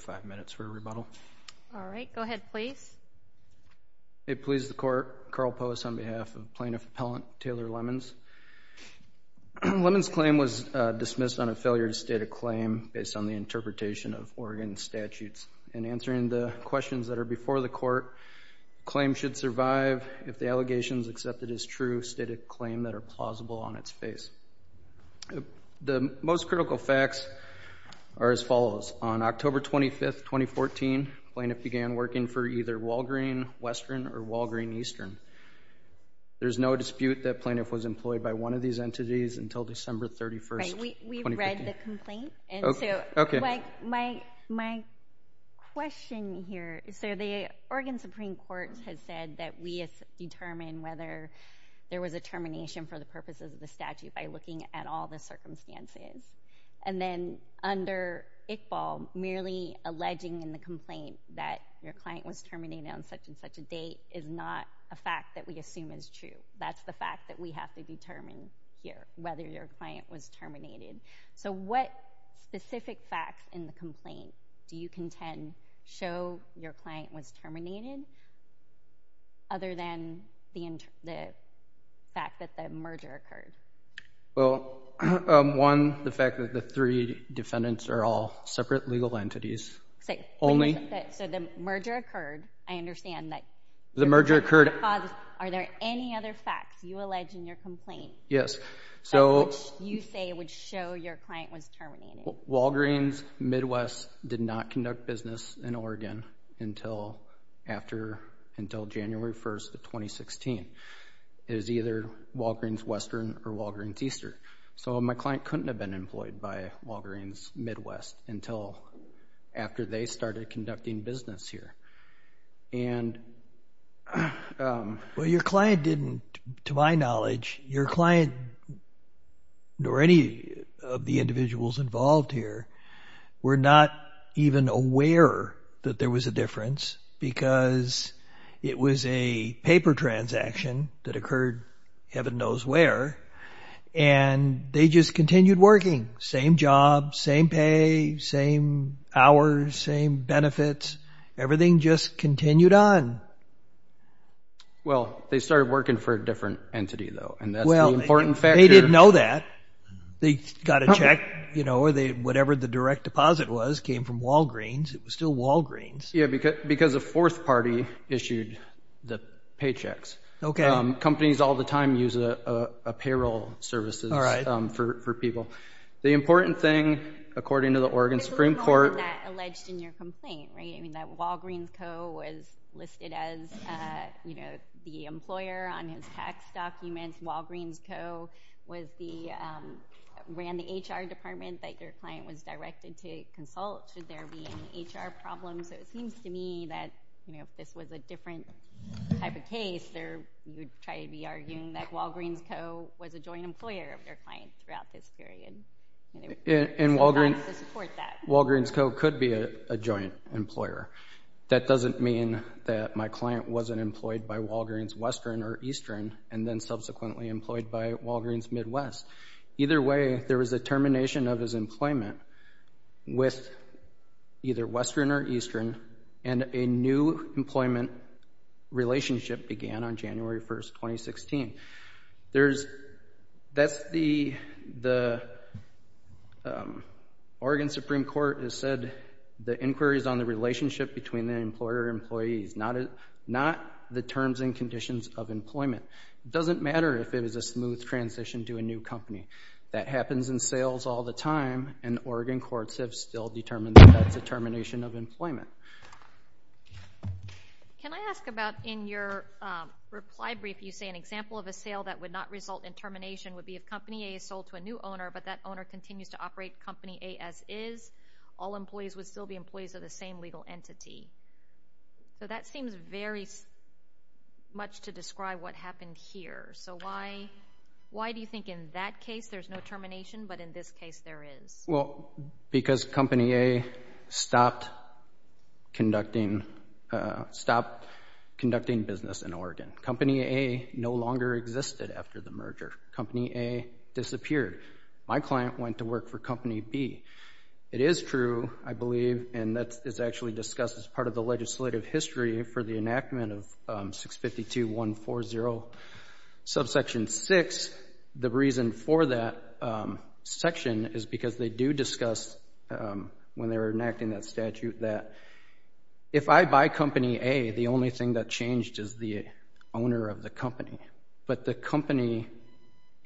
5 minutes for a rebuttal. All right. Go ahead, please. It pleases the Court. Karl Poas on behalf of Plaintiff Appellant Taylor Lemons. Lemons' claim was dismissed on a failure to the interpretation of Oregon statutes. In answering the questions that are before the Court, claim should survive if the allegations accepted as true state a claim that are plausible on its face. The most critical facts are as follows. On October 25, 2014, plaintiff began working for either Walgreen Western or Walgreen Eastern. There's no dispute that plaintiff was employed by one of these entities until December 31, 2015. Right. We've read the complaint. Okay. My question here is, so the Oregon Supreme Court has said that we have determined whether there was a termination for the purposes of the statute by looking at all the circumstances. And then under Iqbal, merely alleging in the complaint that your client was terminated on such and such a date is not a fact that we assume is true. That's the fact that we have to determine here whether your client was terminated. So what specific facts in the complaint do you contend show your client was terminated other than the fact that the merger occurred? Well, one, the fact that the three defendants are all separate legal entities. Only? So the merger occurred. I understand that. The merger occurred. Are there any other facts you allege in your complaint? Yes. So. That which you say would show your client was terminated. Walgreens Midwest did not conduct business in Oregon until after, until January 1st of 2016. It was either Walgreens Western or Walgreens Eastern. So my client couldn't have been employed by Walgreens Midwest until after they started conducting business here. And. Well, your client didn't, to my knowledge, your client nor any of the individuals involved here were not even aware that there was a difference because it was a paper transaction that occurred heaven knows where. And they just same hours, same benefits, everything just continued on. Well, they started working for a different entity though. And that's the important factor. They didn't know that. They got a check, you know, or they, whatever the direct deposit was came from Walgreens. It was still Walgreens. Yeah, because, because a fourth party issued the paychecks. Okay. Companies all the time use a payroll services, um, for, for people. The important thing, according to the Oregon Supreme Court, that alleged in your complaint, right? I mean, that Walgreens Co was listed as, uh, you know, the employer on his tax documents. Walgreens Co was the, um, ran the HR department that your client was directed to consult. Should there be any HR problems? So it seems to me that, you know, if this was a different type of case, there would try to be arguing that Walgreens Co was a joint employer of their clients throughout this period. And Walgreens Co could be a joint employer. That doesn't mean that my client wasn't employed by Walgreens Western or Eastern, and then subsequently employed by Walgreens Midwest. Either way, there was a termination of his employment with either Western or Eastern, and a new employment relationship began on January 1st, 2016. There's, that's the, the, um, Oregon Supreme Court has said the inquiries on the relationship between the employer employees, not, not the terms and conditions of employment. It doesn't matter if it is a smooth transition to a new company. That happens in sales all the time, and Oregon courts have still determined that that's a termination of employment. Can I ask about in your reply brief, you say an example of a sale that would not result in termination would be if Company A is sold to a new owner, but that owner continues to operate Company A as is, all employees would still be employees of the same legal entity. So that seems very much to describe what happened here. So why, why do you think in that case there's no termination, but in this case there is? Well, because Company A stopped conducting, stopped conducting business in Oregon. Company A no longer existed after the merger. Company A disappeared. My client went to work for Company B. It is true, I believe, and that's, it's actually discussed as part of the legislative history for the enactment of 652.140 subsection 6. The reason for that section is because they do discuss when they were enacting that statute that if I buy Company A, the only thing that changed is the owner of the company, but the company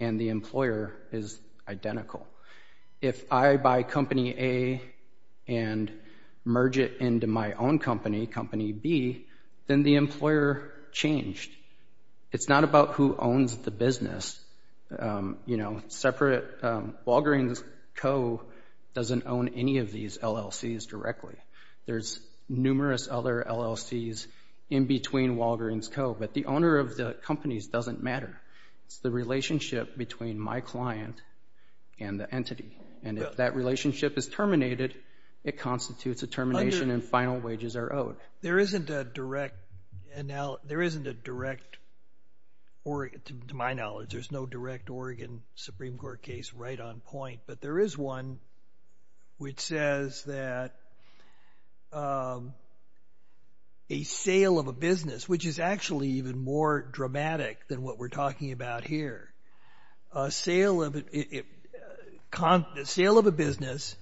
and the employer is identical. If I buy Company A and merge it into my own company, Company B, then the employer changed. It's not about who owns the business, you know, separate, Walgreens Co. doesn't own any of these LLCs directly. There's numerous other LLCs in between Walgreens Co., but the owner of the companies doesn't matter. It's the relationship between my client and the entity, and if that relationship is terminated, it constitutes a termination and final wages are owed. There isn't a direct, to my knowledge, there's no direct Oregon Supreme Court case right on point, but there is one which says that a sale of a business, which is actually even more dramatic than what we're talking about here, a sale of a business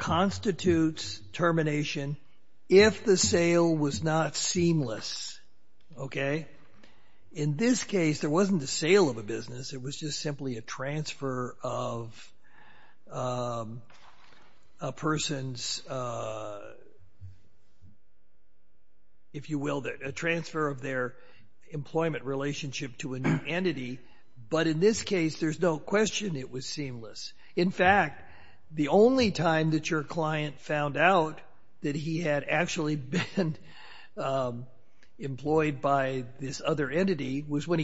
constitutes termination if the sale was not seamless, okay? In this case, there wasn't a sale of a business, it was just simply a transfer of a person's, if you will, a transfer of their employment relationship to a new entity, but in this case, there's no question it was seamless. In fact, the only time that your client found out that he had actually been employed by this other entity was when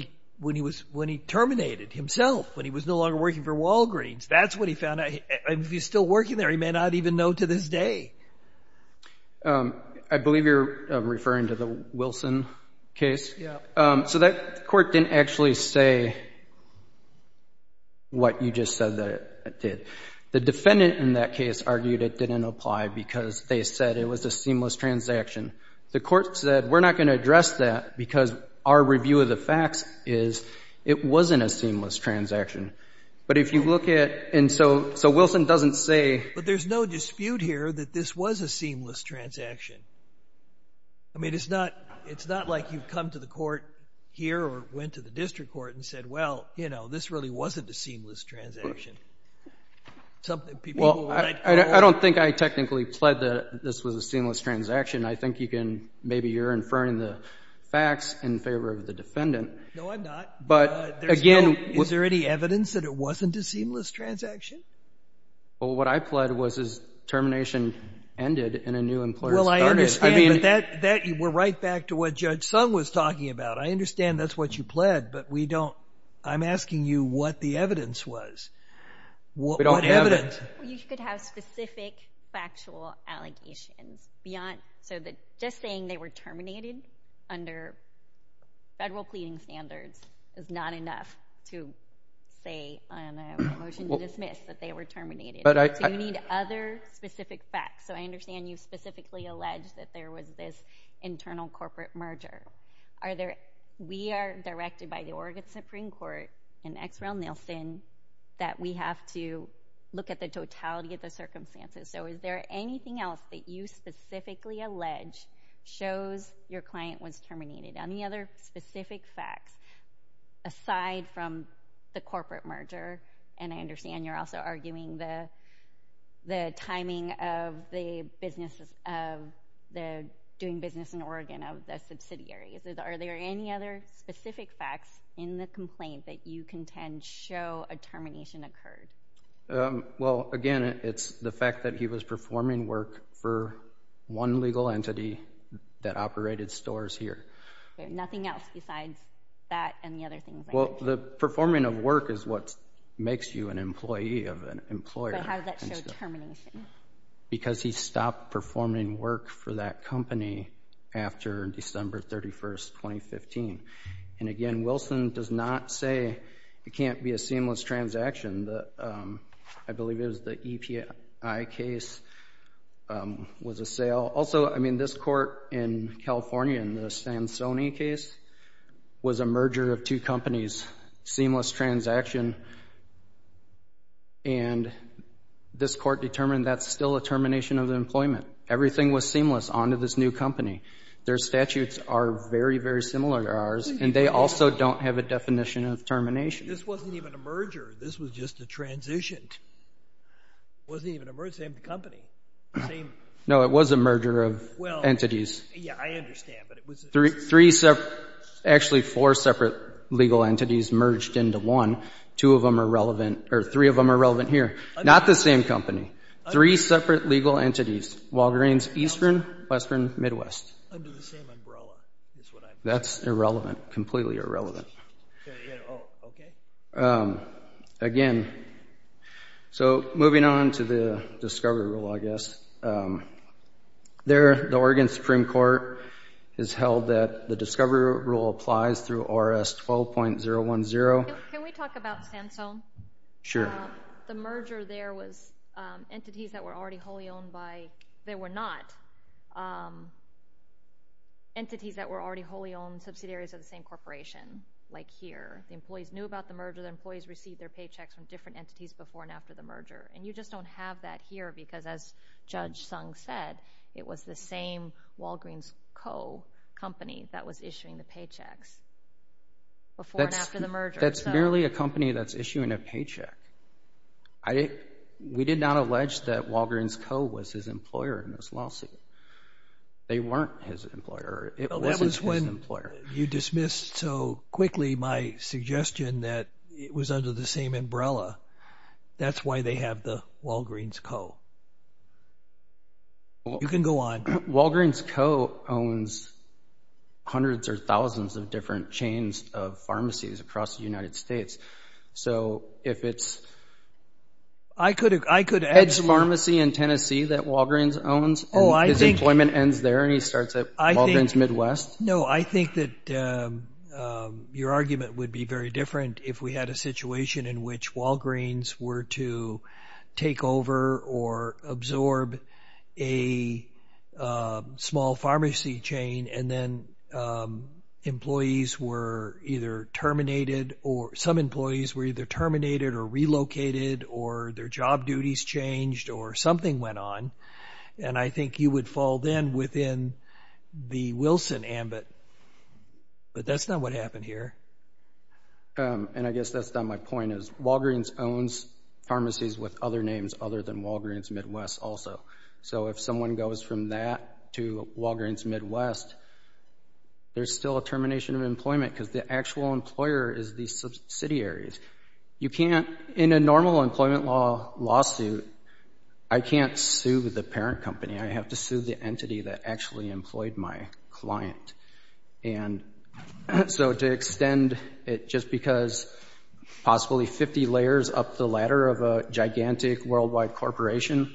he terminated himself, when he was no longer working for Walgreens. That's what he found out. If he's still working there, he may not even know to this day. I believe you're referring to the Wilson case. So that court didn't actually say what you just said that it did. The defendant in that case argued it didn't apply because they said it was a seamless transaction. The court said, we're not going to address that because our review of the facts is it wasn't a seamless transaction. But if you look at, and so Wilson doesn't say- But there's no dispute here that this was a seamless transaction. I mean, it's not like you've come to the court here or went to the district court and said, well, you know, this really wasn't a seamless transaction. Well, I don't think I technically pled that this was a seamless transaction. I think you can, maybe you're inferring the facts in favor of the defendant. No, I'm not. But again- Is there any evidence that it wasn't a seamless transaction? Well, what I pled was his termination ended and a new employer started. That, we're right back to what Judge Sung was talking about. I understand that's what you pled, but we don't, I'm asking you what the evidence was. What evidence? You could have specific factual allegations beyond, so that just saying they were terminated under federal pleading standards is not enough to say on a motion to dismiss that they were this internal corporate merger. Are there, we are directed by the Oregon Supreme Court and Xrel Nielsen that we have to look at the totality of the circumstances. So is there anything else that you specifically allege shows your client was terminated? Any other specific facts aside from the corporate merger? And I understand you're also arguing the timing of the doing business in Oregon of the subsidiaries. Are there any other specific facts in the complaint that you contend show a termination occurred? Well, again, it's the fact that he was performing work for one legal entity that operated stores here. Nothing else besides that and the other things like that? Well, the performing of work is what makes you an employee of an employer. How does that show termination? Because he stopped performing work for that company after December 31st, 2015. And again, Wilson does not say it can't be a seamless transaction. I believe it was the EPI case was a sale. Also, I mean, this court in California, in the Samsoni case, was a merger of two companies, seamless transaction. And this court determined that's still a termination of the employment. Everything was seamless onto this new company. Their statutes are very, very similar to ours and they also don't have a definition of termination. This wasn't even a merger. This was just a transition. It wasn't even a merger of the same company. No, it was a merger of entities. Yeah, I understand, but it was... Actually, four separate legal entities merged into one. Two of them are relevant or three of them are relevant here. Not the same company. Three separate legal entities, Walgreens, Eastern, Western, Midwest. Under the same umbrella is what I'm... That's irrelevant, completely irrelevant. Yeah, okay. Again, so moving on to the discovery rule, I guess. There, the Oregon Supreme Court has held that the discovery rule applies through ORS 12.010. Can we talk about Sansone? Sure. The merger there was entities that were already wholly owned by... They were not entities that were already wholly owned subsidiaries of the same corporation. Here, the employees knew about the merger. The employees received their paychecks from different entities before and after the merger. You just don't have that here because as Judge Sung said, it was the same Walgreens Co. company that was issuing the paychecks before and after the merger. That's merely a company that's issuing a paycheck. We did not allege that Walgreens Co. was his employer in this lawsuit. They weren't his employer. It wasn't his employer. You dismissed so quickly my suggestion that it was under the same umbrella. That's why they have the Walgreens Co. You can go on. Walgreens Co. owns hundreds or thousands of different chains of pharmacies across the United States. So if it's... I could... ...Edge Pharmacy in Tennessee that Walgreens owns, his employment ends there and he starts at Walgreens Midwest. No, I think that your argument would be very different if we had a situation in which Walgreens were to take over or absorb a small pharmacy chain and then employees were either terminated or some employees were either terminated or relocated or their job duties changed or something went on. And I think you would fall then within the Wilson ambit. But that's not what happened here. And I guess that's not my point is Walgreens owns pharmacies with other names other than Walgreens Midwest also. So if someone goes from that to Walgreens Midwest, there's still a termination of employment because the actual employer is the subsidiaries. You can't, in a normal employment law lawsuit, I can't sue the parent company. I have to sue the entity that actually employed my client. And so to extend it just because possibly 50 layers up the ladder of a gigantic worldwide corporation,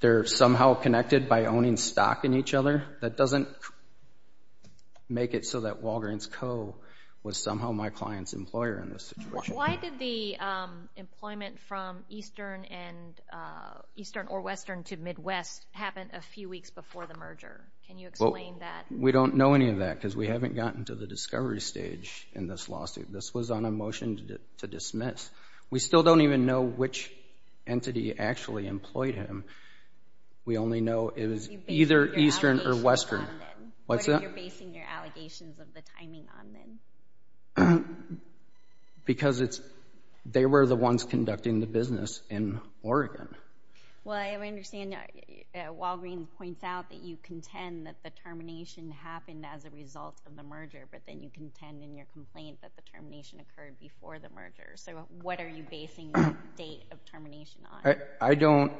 they're somehow connected by owning stock in each other. That doesn't make it so that Walgreens Co was somehow my client's employer in this situation. Why did the employment from Eastern or Western to Midwest happen a few weeks before the merger? Can you explain that? We don't know any of that because we haven't gotten to the discovery stage in this lawsuit. This was on a motion to dismiss. We still don't even know which entity actually employed him. We only know it was either Eastern or Western. What are you basing your allegations of the timing on then? Because they were the ones conducting the business in Oregon. Well, I understand Walgreens points out that you contend that the termination happened as a result of the merger, but then you contend in your complaint that the termination occurred before the merger. So what are you basing the date of termination on? I don't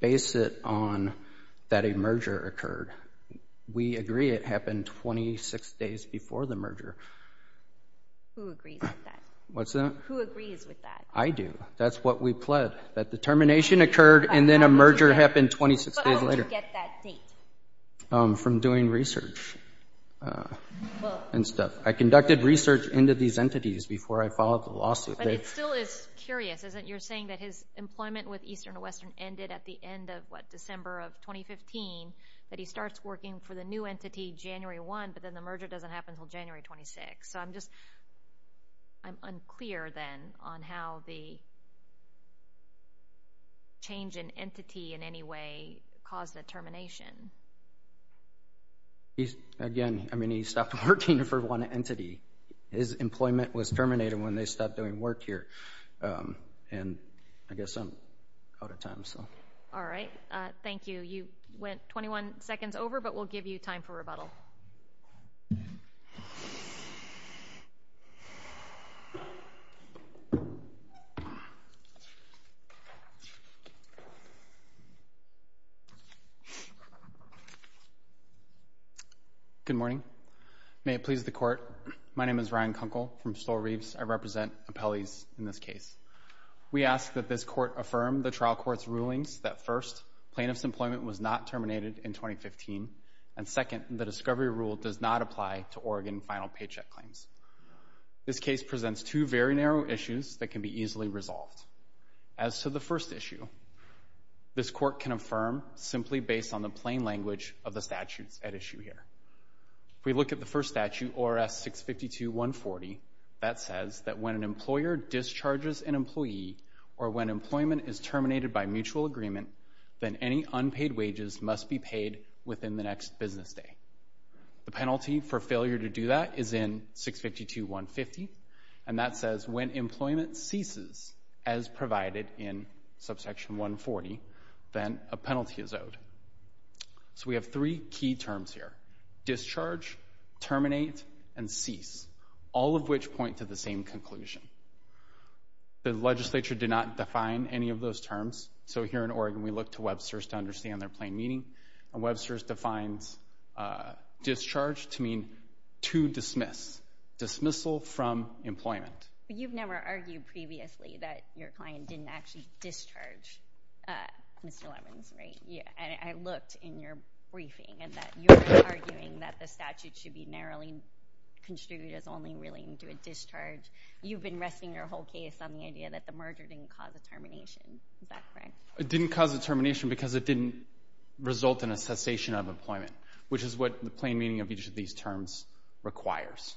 base it on that a merger occurred. We agree it happened 26 days before the merger. Who agrees with that? What's that? Who agrees with that? I do. That's what we pled, that the termination occurred and then a merger happened 26 days later. How did you get that date? From doing research and stuff. I conducted research into these entities before I filed the lawsuit. But it still is curious, isn't it? You're saying that his employment with Eastern or Western ended at the end of, what, December of 2015, that he starts working for the new entity January 1, but then the merger doesn't happen until January 26. So I'm unclear then on how the change in entity in any way caused the termination. Again, I mean, he stopped working for one entity. His employment was terminated when they stopped doing work here. And I guess I'm out of time. So. All right. Thank you. You went 21 seconds over, but we'll give you time for rebuttal. Good morning. May it please the court. My name is Ryan Kunkel from Stowe Reeves. I represent appellees in this case. We ask that this court affirm the trial court's rulings that first, plaintiff's employment was not terminated in 2015. And second, the discovery rule does not apply to Oregon final paycheck claims. This case presents two very narrow issues that can be easily resolved. As to the first issue, this court can affirm simply based on the plain language of the statutes at issue here. We look at the first statute, ORS 652-140. That says that when an employer discharges an employee or when employment is terminated by mutual agreement, then any unpaid wages must be paid within the next business day. The penalty for failure to do that is in 652-150. And that says when employment ceases as provided in subsection 140, then a penalty is owed. So we have three key terms here. Discharge, terminate, and cease. All of which point to the same conclusion. The legislature did not define any of those terms. So here in Oregon, we look to Webster's to understand their plain meaning. And Webster's defines discharge to mean to dismiss. Dismissal from employment. But you've never argued previously that your client didn't actually discharge Mr. Lemons, right? And I looked in your briefing and that you're arguing that the statute should be narrowly construed as only reeling to a discharge. You've been resting your whole case on the idea that the merger didn't cause a termination. Is that correct? It didn't cause a termination because it didn't result in a cessation of employment, which is what the plain meaning of each of these terms requires.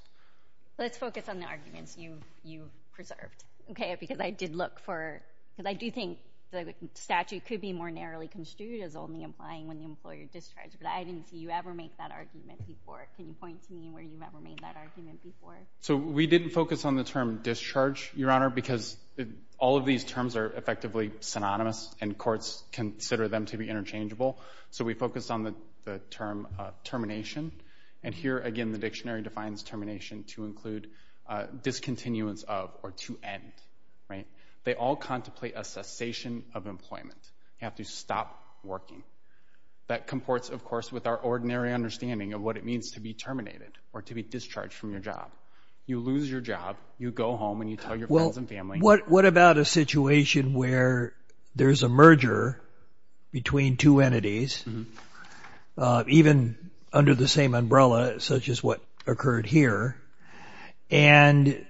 Let's focus on the arguments you preserved, okay? Because I did look for... Because I do think the statute could be more narrowly construed as only implying when the employer discharged. But I didn't see you ever make that argument before. Can you point to me where you've ever made that argument before? So we didn't focus on the term discharge, Your Honor, because all of these terms are effectively synonymous and courts consider them to be interchangeable. So we focused on the term termination. And here again, the dictionary defines termination to include discontinuance of or to end. They all contemplate a cessation of employment. You have to stop working. That comports, of course, with our ordinary understanding of what it means to be terminated or to be discharged from your job. You lose your job. You go home and you tell your friends and family... Well, what about a situation where there's a merger between two entities, even under the same umbrella, such as what occurred here, and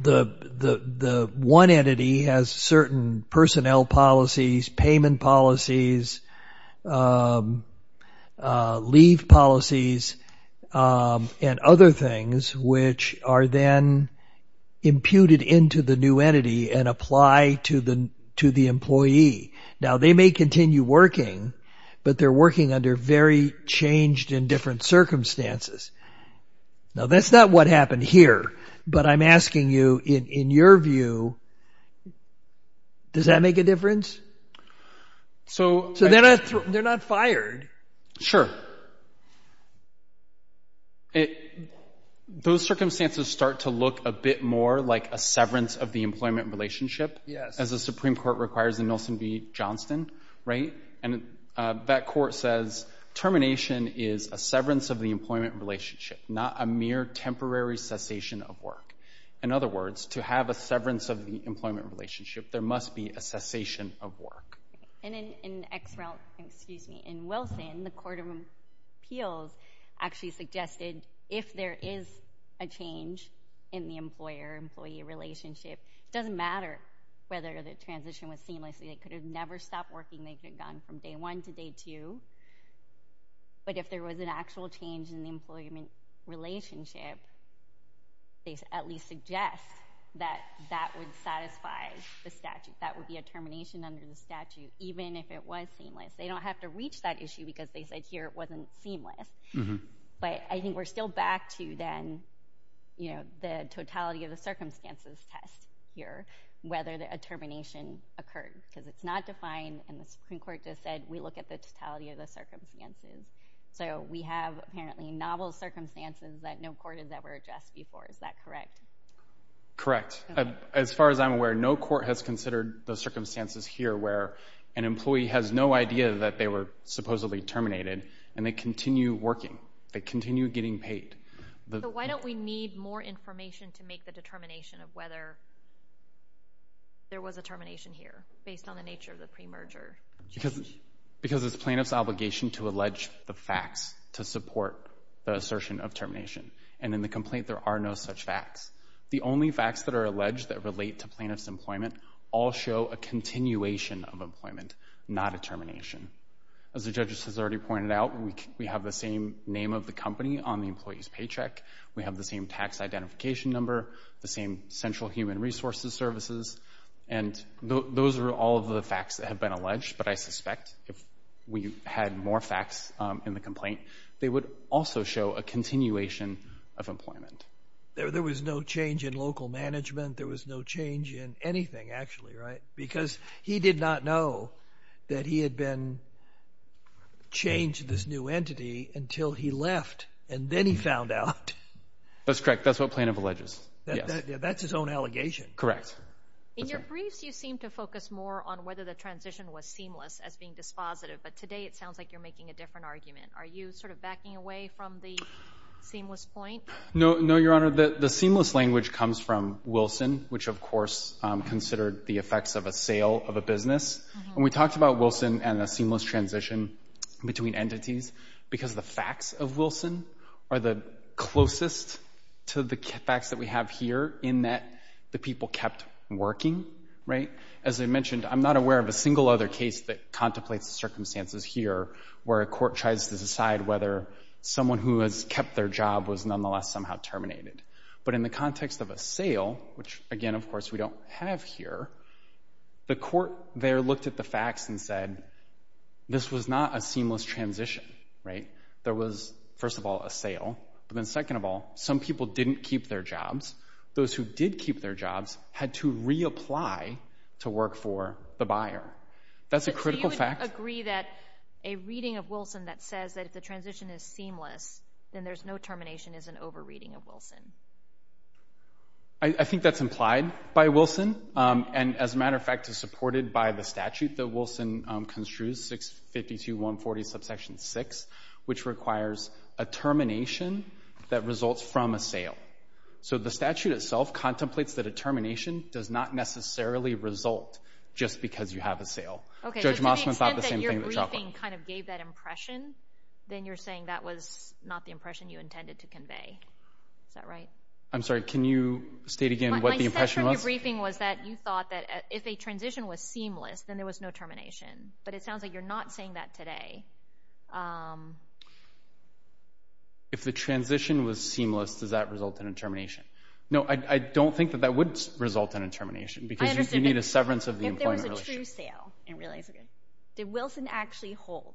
the one entity has certain personnel policies, payment policies, leave policies, and other things which are then imputed into the new entity and apply to the employee. Now, they may continue working, but they're working under very changed and different circumstances. Now, that's not what happened here. But I'm asking you, in your view, does that make a difference? So they're not fired. Sure. Those circumstances start to look a bit more like a severance of the employment relationship. Yes. As the Supreme Court requires in Nilsen v. Johnston, right? That court says termination is a severance of the employment relationship, not a mere temporary cessation of work. In other words, to have a severance of the employment relationship, there must be a cessation of work. And in Wilson, the Court of Appeals actually suggested, if there is a change in the employer-employee relationship, it doesn't matter whether the transition was seamless. They could have never stopped working. They could have gone from day one to day two. But if there was an actual change in the employment relationship, they at least suggest that that would satisfy the statute. That would be a termination under the statute, even if it was seamless. They don't have to reach that issue because they said here it wasn't seamless. But I think we're still back to then, you know, the totality of the circumstances test here, whether a termination occurred. Because it's not defined, and the Supreme Court just said, we look at the totality of the circumstances. So we have apparently novel circumstances that no court has ever addressed before. Is that correct? Correct. As far as I'm aware, no court has considered the circumstances here where an employee has no idea that they were supposedly terminated, and they continue working. They continue getting paid. Why don't we need more information to make the determination of whether there was a termination here? Based on the nature of the premerger. Because it's plaintiff's obligation to allege the facts to support the assertion of termination. And in the complaint, there are no such facts. The only facts that are alleged that relate to plaintiff's employment all show a continuation of employment, not a termination. As the judges has already pointed out, we have the same name of the company on the employee's paycheck. We have the same tax identification number, the same central human resources services. And those are all of the facts that have been alleged. But I suspect if we had more facts in the complaint, they would also show a continuation of employment. There was no change in local management. There was no change in anything, actually, right? Because he did not know that he had been changed, this new entity, until he left. And then he found out. That's correct. That's what plaintiff alleges. That's his own allegation. Correct. In your briefs, you seem to focus more on whether the transition was seamless as being dispositive. But today, it sounds like you're making a different argument. Are you sort of backing away from the seamless point? No, no, Your Honor. The seamless language comes from Wilson, which, of course, considered the effects of a sale of a business. And we talked about Wilson and a seamless transition between entities because the facts of Wilson are the closest to the facts that we have here in that the people kept working, right? As I mentioned, I'm not aware of a single other case that contemplates the circumstances here where a court tries to decide whether someone who has kept their job was nonetheless somehow terminated. But in the context of a sale, which again, of course, we don't have here, the court there looked at the facts and said, this was not a seamless transition, right? There was, first of all, a sale. But then second of all, some people didn't keep their jobs. Those who did keep their jobs had to reapply to work for the buyer. That's a critical fact. Do you agree that a reading of Wilson that says that if the transition is seamless, then there's no termination is an over-reading of Wilson? I think that's implied by Wilson. And as a matter of fact, it's supported by the statute that Wilson construes, 652.140, subsection 6, which requires a termination that results from a sale. So the statute itself contemplates that a termination does not necessarily result just because you have a sale. Okay, so to the extent that your briefing kind of gave that impression, then you're saying that was not the impression you intended to convey. Is that right? I'm sorry, can you state again what the impression was? My sense from your briefing was that you thought that if a transition was seamless, then there was no termination. But it sounds like you're not saying that today. If the transition was seamless, does that result in a termination? No, I don't think that that would result in a termination because you need a severance of the employment relationship. If there was a true sale, and realize again, did Wilson actually hold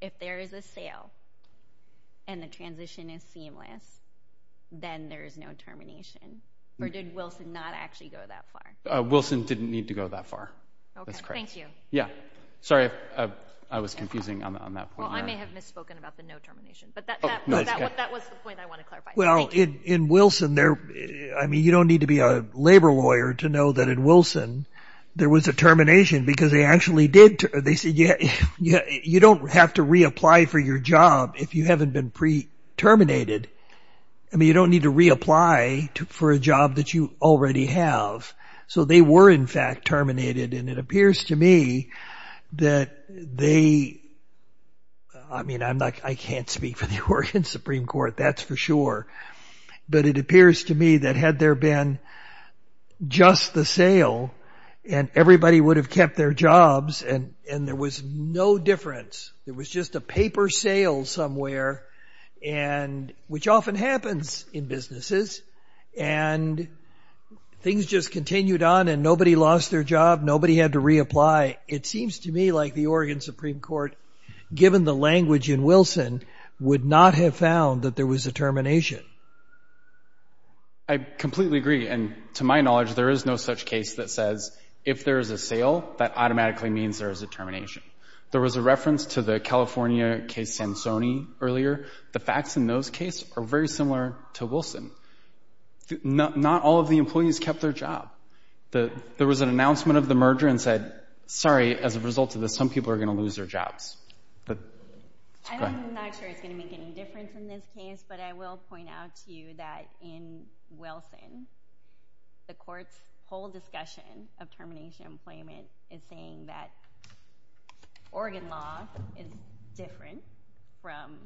if there is a sale and the transition is seamless, then there is no termination? Or did Wilson not actually go that far? Wilson didn't need to go that far, that's correct. Thank you. Yeah, sorry, I was confusing on that point. I may have misspoken about the no termination, but that was the point I want to clarify. Well, in Wilson, I mean, you don't need to be a labor lawyer to know that in Wilson, there was a termination because they actually did, they said, you don't have to reapply for your job if you haven't been pre-terminated. I mean, you don't need to reapply for a job that you already have. So they were in fact terminated. And it appears to me that they, I mean, I can't speak for the Oregon Supreme Court, that's for sure. But it appears to me that had there been just the sale and everybody would have kept their jobs and there was no difference. There was just a paper sale somewhere, which often happens in businesses. And things just continued on and nobody lost their job. Nobody had to reapply. It seems to me like the Oregon Supreme Court, given the language in Wilson, would not have found that there was a termination. I completely agree. And to my knowledge, there is no such case that says if there is a sale, that automatically means there is a termination. There was a reference to the California case Sansoni earlier. The facts in those cases are very similar to Wilson. Not all of the employees kept their job. There was an announcement of the merger and said, sorry, as a result of this, some people are going to lose their jobs. I'm not sure it's going to make any difference in this case, but I will point out to you that in Wilson, the court's whole discussion of termination of employment is saying that Oregon law is different from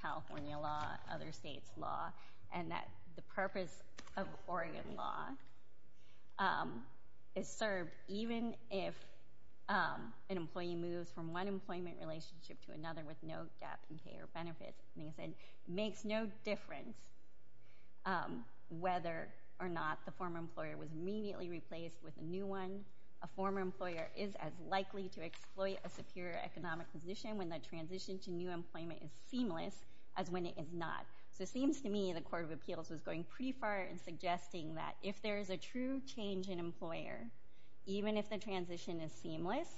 California law, other states' law, and that the purpose of Oregon law is served even if an employee moves from one employment relationship to another with no gap in pay or benefits. And they said it makes no difference whether or not the former employer was immediately replaced with a new one. A former employer is as likely to exploit a superior economic position when the transition to new employment is seamless as when it is not. So it seems to me the Court of Appeals is going pretty far in suggesting that if there is a true change in employer, even if the transition is seamless,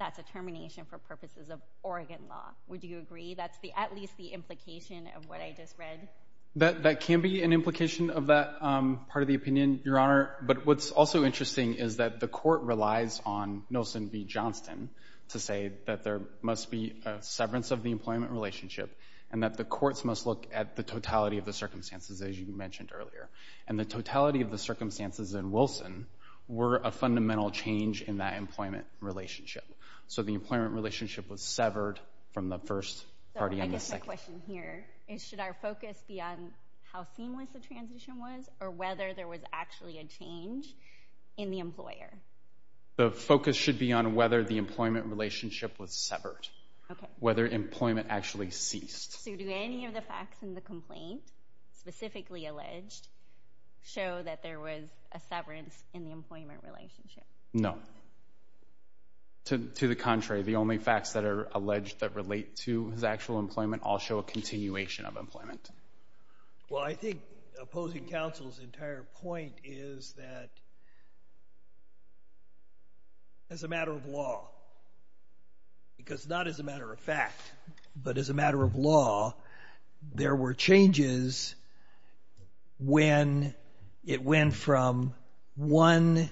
that's a termination for purposes of Oregon law. Would you agree that's at least the implication of what I just read? That can be an implication of that part of the opinion, Your Honor. But what's also interesting is that the court relies on Nilsen v. Johnston to say that there must be a severance of the employment relationship and that the courts must look at the totality of the circumstances, as you mentioned earlier, and the totality of the circumstances in Wilson were a fundamental change in that employment relationship. So the employment relationship was severed from the first party on the second. So I guess my question here is should our focus be on how seamless the transition was or whether there was actually a change in the employer? The focus should be on whether the employment relationship was severed, whether employment actually ceased. So do any of the facts in the complaint, specifically alleged, show that there was a severance in the employment relationship? No. To the contrary, the only facts that are alleged that relate to his actual employment all show a continuation of employment. Well, I think opposing counsel's entire point is that as a matter of law, because not as a matter of fact, but as a matter of law, there were changes when it went from one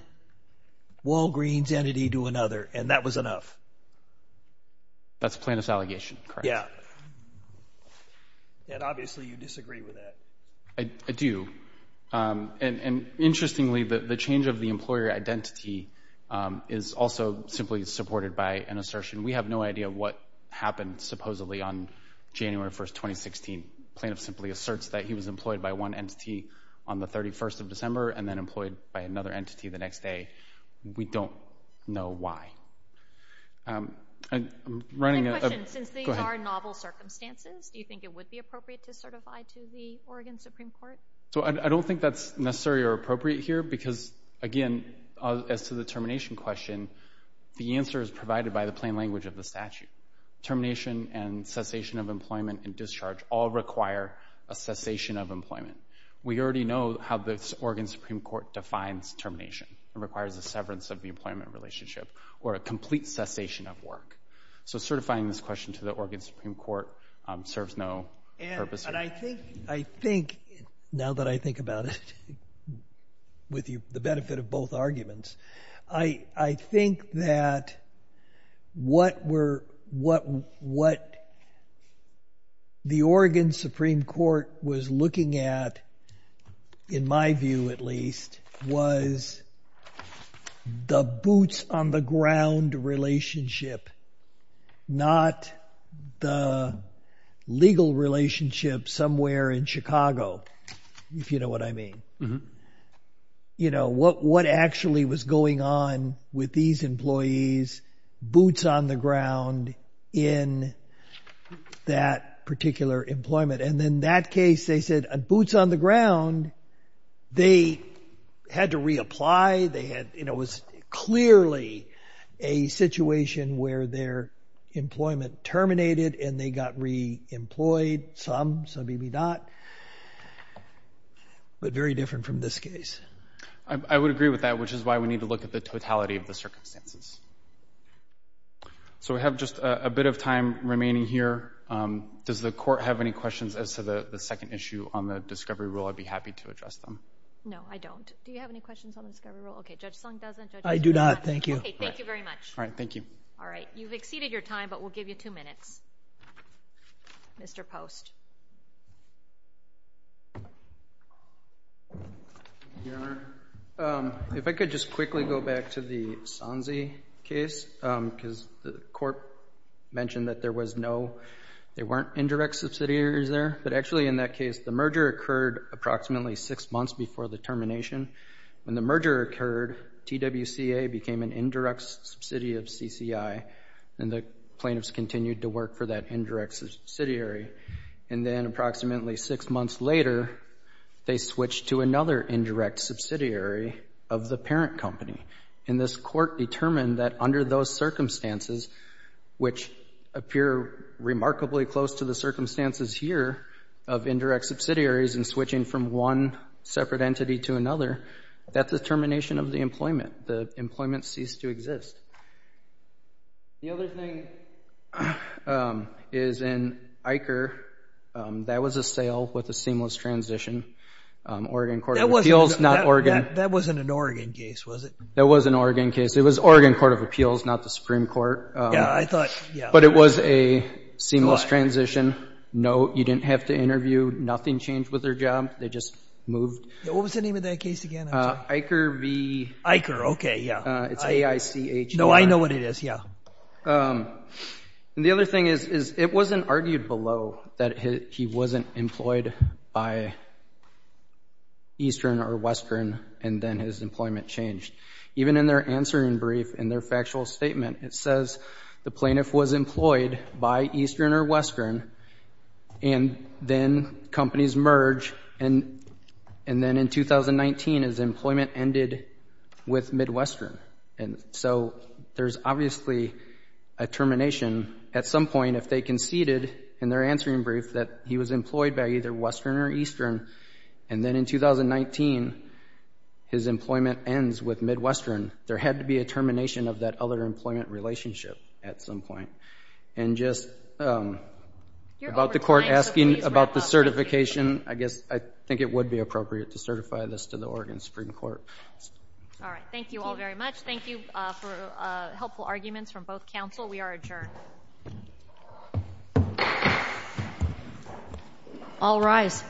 Walgreens entity to another, and that was enough. That's plaintiff's allegation, correct? Yeah. And obviously you disagree with that. I do. And interestingly, the change of the employer identity is also simply supported by an assertion. We have no idea what happened, supposedly on January 1st, 2016. Plaintiff simply asserts that he was employed by one entity on the 31st of December and then employed by another entity the next day. We don't know why. I'm running a... My question, since these are novel circumstances, do you think it would be appropriate to certify to the Oregon Supreme Court? So I don't think that's necessary or appropriate here because, again, as to the termination question, the answer is provided by the plain language of the statute. Termination and cessation of employment and discharge all require a cessation of employment. We already know how the Oregon Supreme Court defines termination. It requires a severance of the employment relationship or a complete cessation of work. So certifying this question to the Oregon Supreme Court serves no purpose here. And I think, now that I think about it with the benefit of both arguments, I think that what the Oregon Supreme Court was looking at, in my view at least, was the boots-on-the-ground relationship, not the legal relationship somewhere in Chicago, if you know what I mean. Mm-hmm. You know, what actually was going on with these employees, boots-on-the-ground in that particular employment. And in that case, they said, boots-on-the-ground, they had to reapply. They had, you know, it was clearly a situation where their employment terminated and they got re-employed, some, some maybe not, but very different from this case. I would agree with that, which is why we need to look at the totality of the circumstances. So we have just a bit of time remaining here. Does the court have any questions as to the second issue on the discovery rule? I'd be happy to address them. No, I don't. Do you have any questions on the discovery rule? Okay, Judge Sung doesn't. I do not, thank you. Okay, thank you very much. All right, thank you. All right, you've exceeded your time, but we'll give you two minutes. Mr. Post. Thank you, Your Honor. If I could just quickly go back to the Sanze case, because the court mentioned that there was no, there weren't indirect subsidiaries there, but actually in that case, the merger occurred approximately six months before the termination. When the merger occurred, TWCA became an indirect subsidy of CCI and the plaintiffs continued to work for that indirect subsidiary. And then approximately six months later, they switched to another indirect subsidiary of the parent company. And this court determined that under those circumstances, which appear remarkably close to the circumstances here of indirect subsidiaries and switching from one separate entity to another, that's the termination of the employment. The employment ceased to exist. The other thing is in Iker, that was a sale with a seamless transition. Oregon Court of Appeals, not Oregon. That wasn't an Oregon case, was it? That was an Oregon case. It was Oregon Court of Appeals, not the Supreme Court. Yeah, I thought, yeah. But it was a seamless transition. No, you didn't have to interview. Nothing changed with their job. They just moved. What was the name of that case again? Iker B. Iker, okay, yeah. It's A-I-C-H-E. No, I know what it is, yeah. And the other thing is it wasn't argued below that he wasn't employed by Eastern or Western and then his employment changed. Even in their answering brief, in their factual statement, it says the plaintiff was employed by Eastern or Western and then companies merge. And then in 2019, his employment ended with Midwestern. And so there's obviously a termination. At some point, if they conceded in their answering brief that he was employed by either Western or Eastern and then in 2019, his employment ends with Midwestern, there had to be a termination of that other employment relationship at some point. And just about the court asking about the certification, I guess I think it would be appropriate to certify this to the Oregon Supreme Court. All right. Thank you all very much. Thank you for helpful arguments from both counsel. We are adjourned. All rise.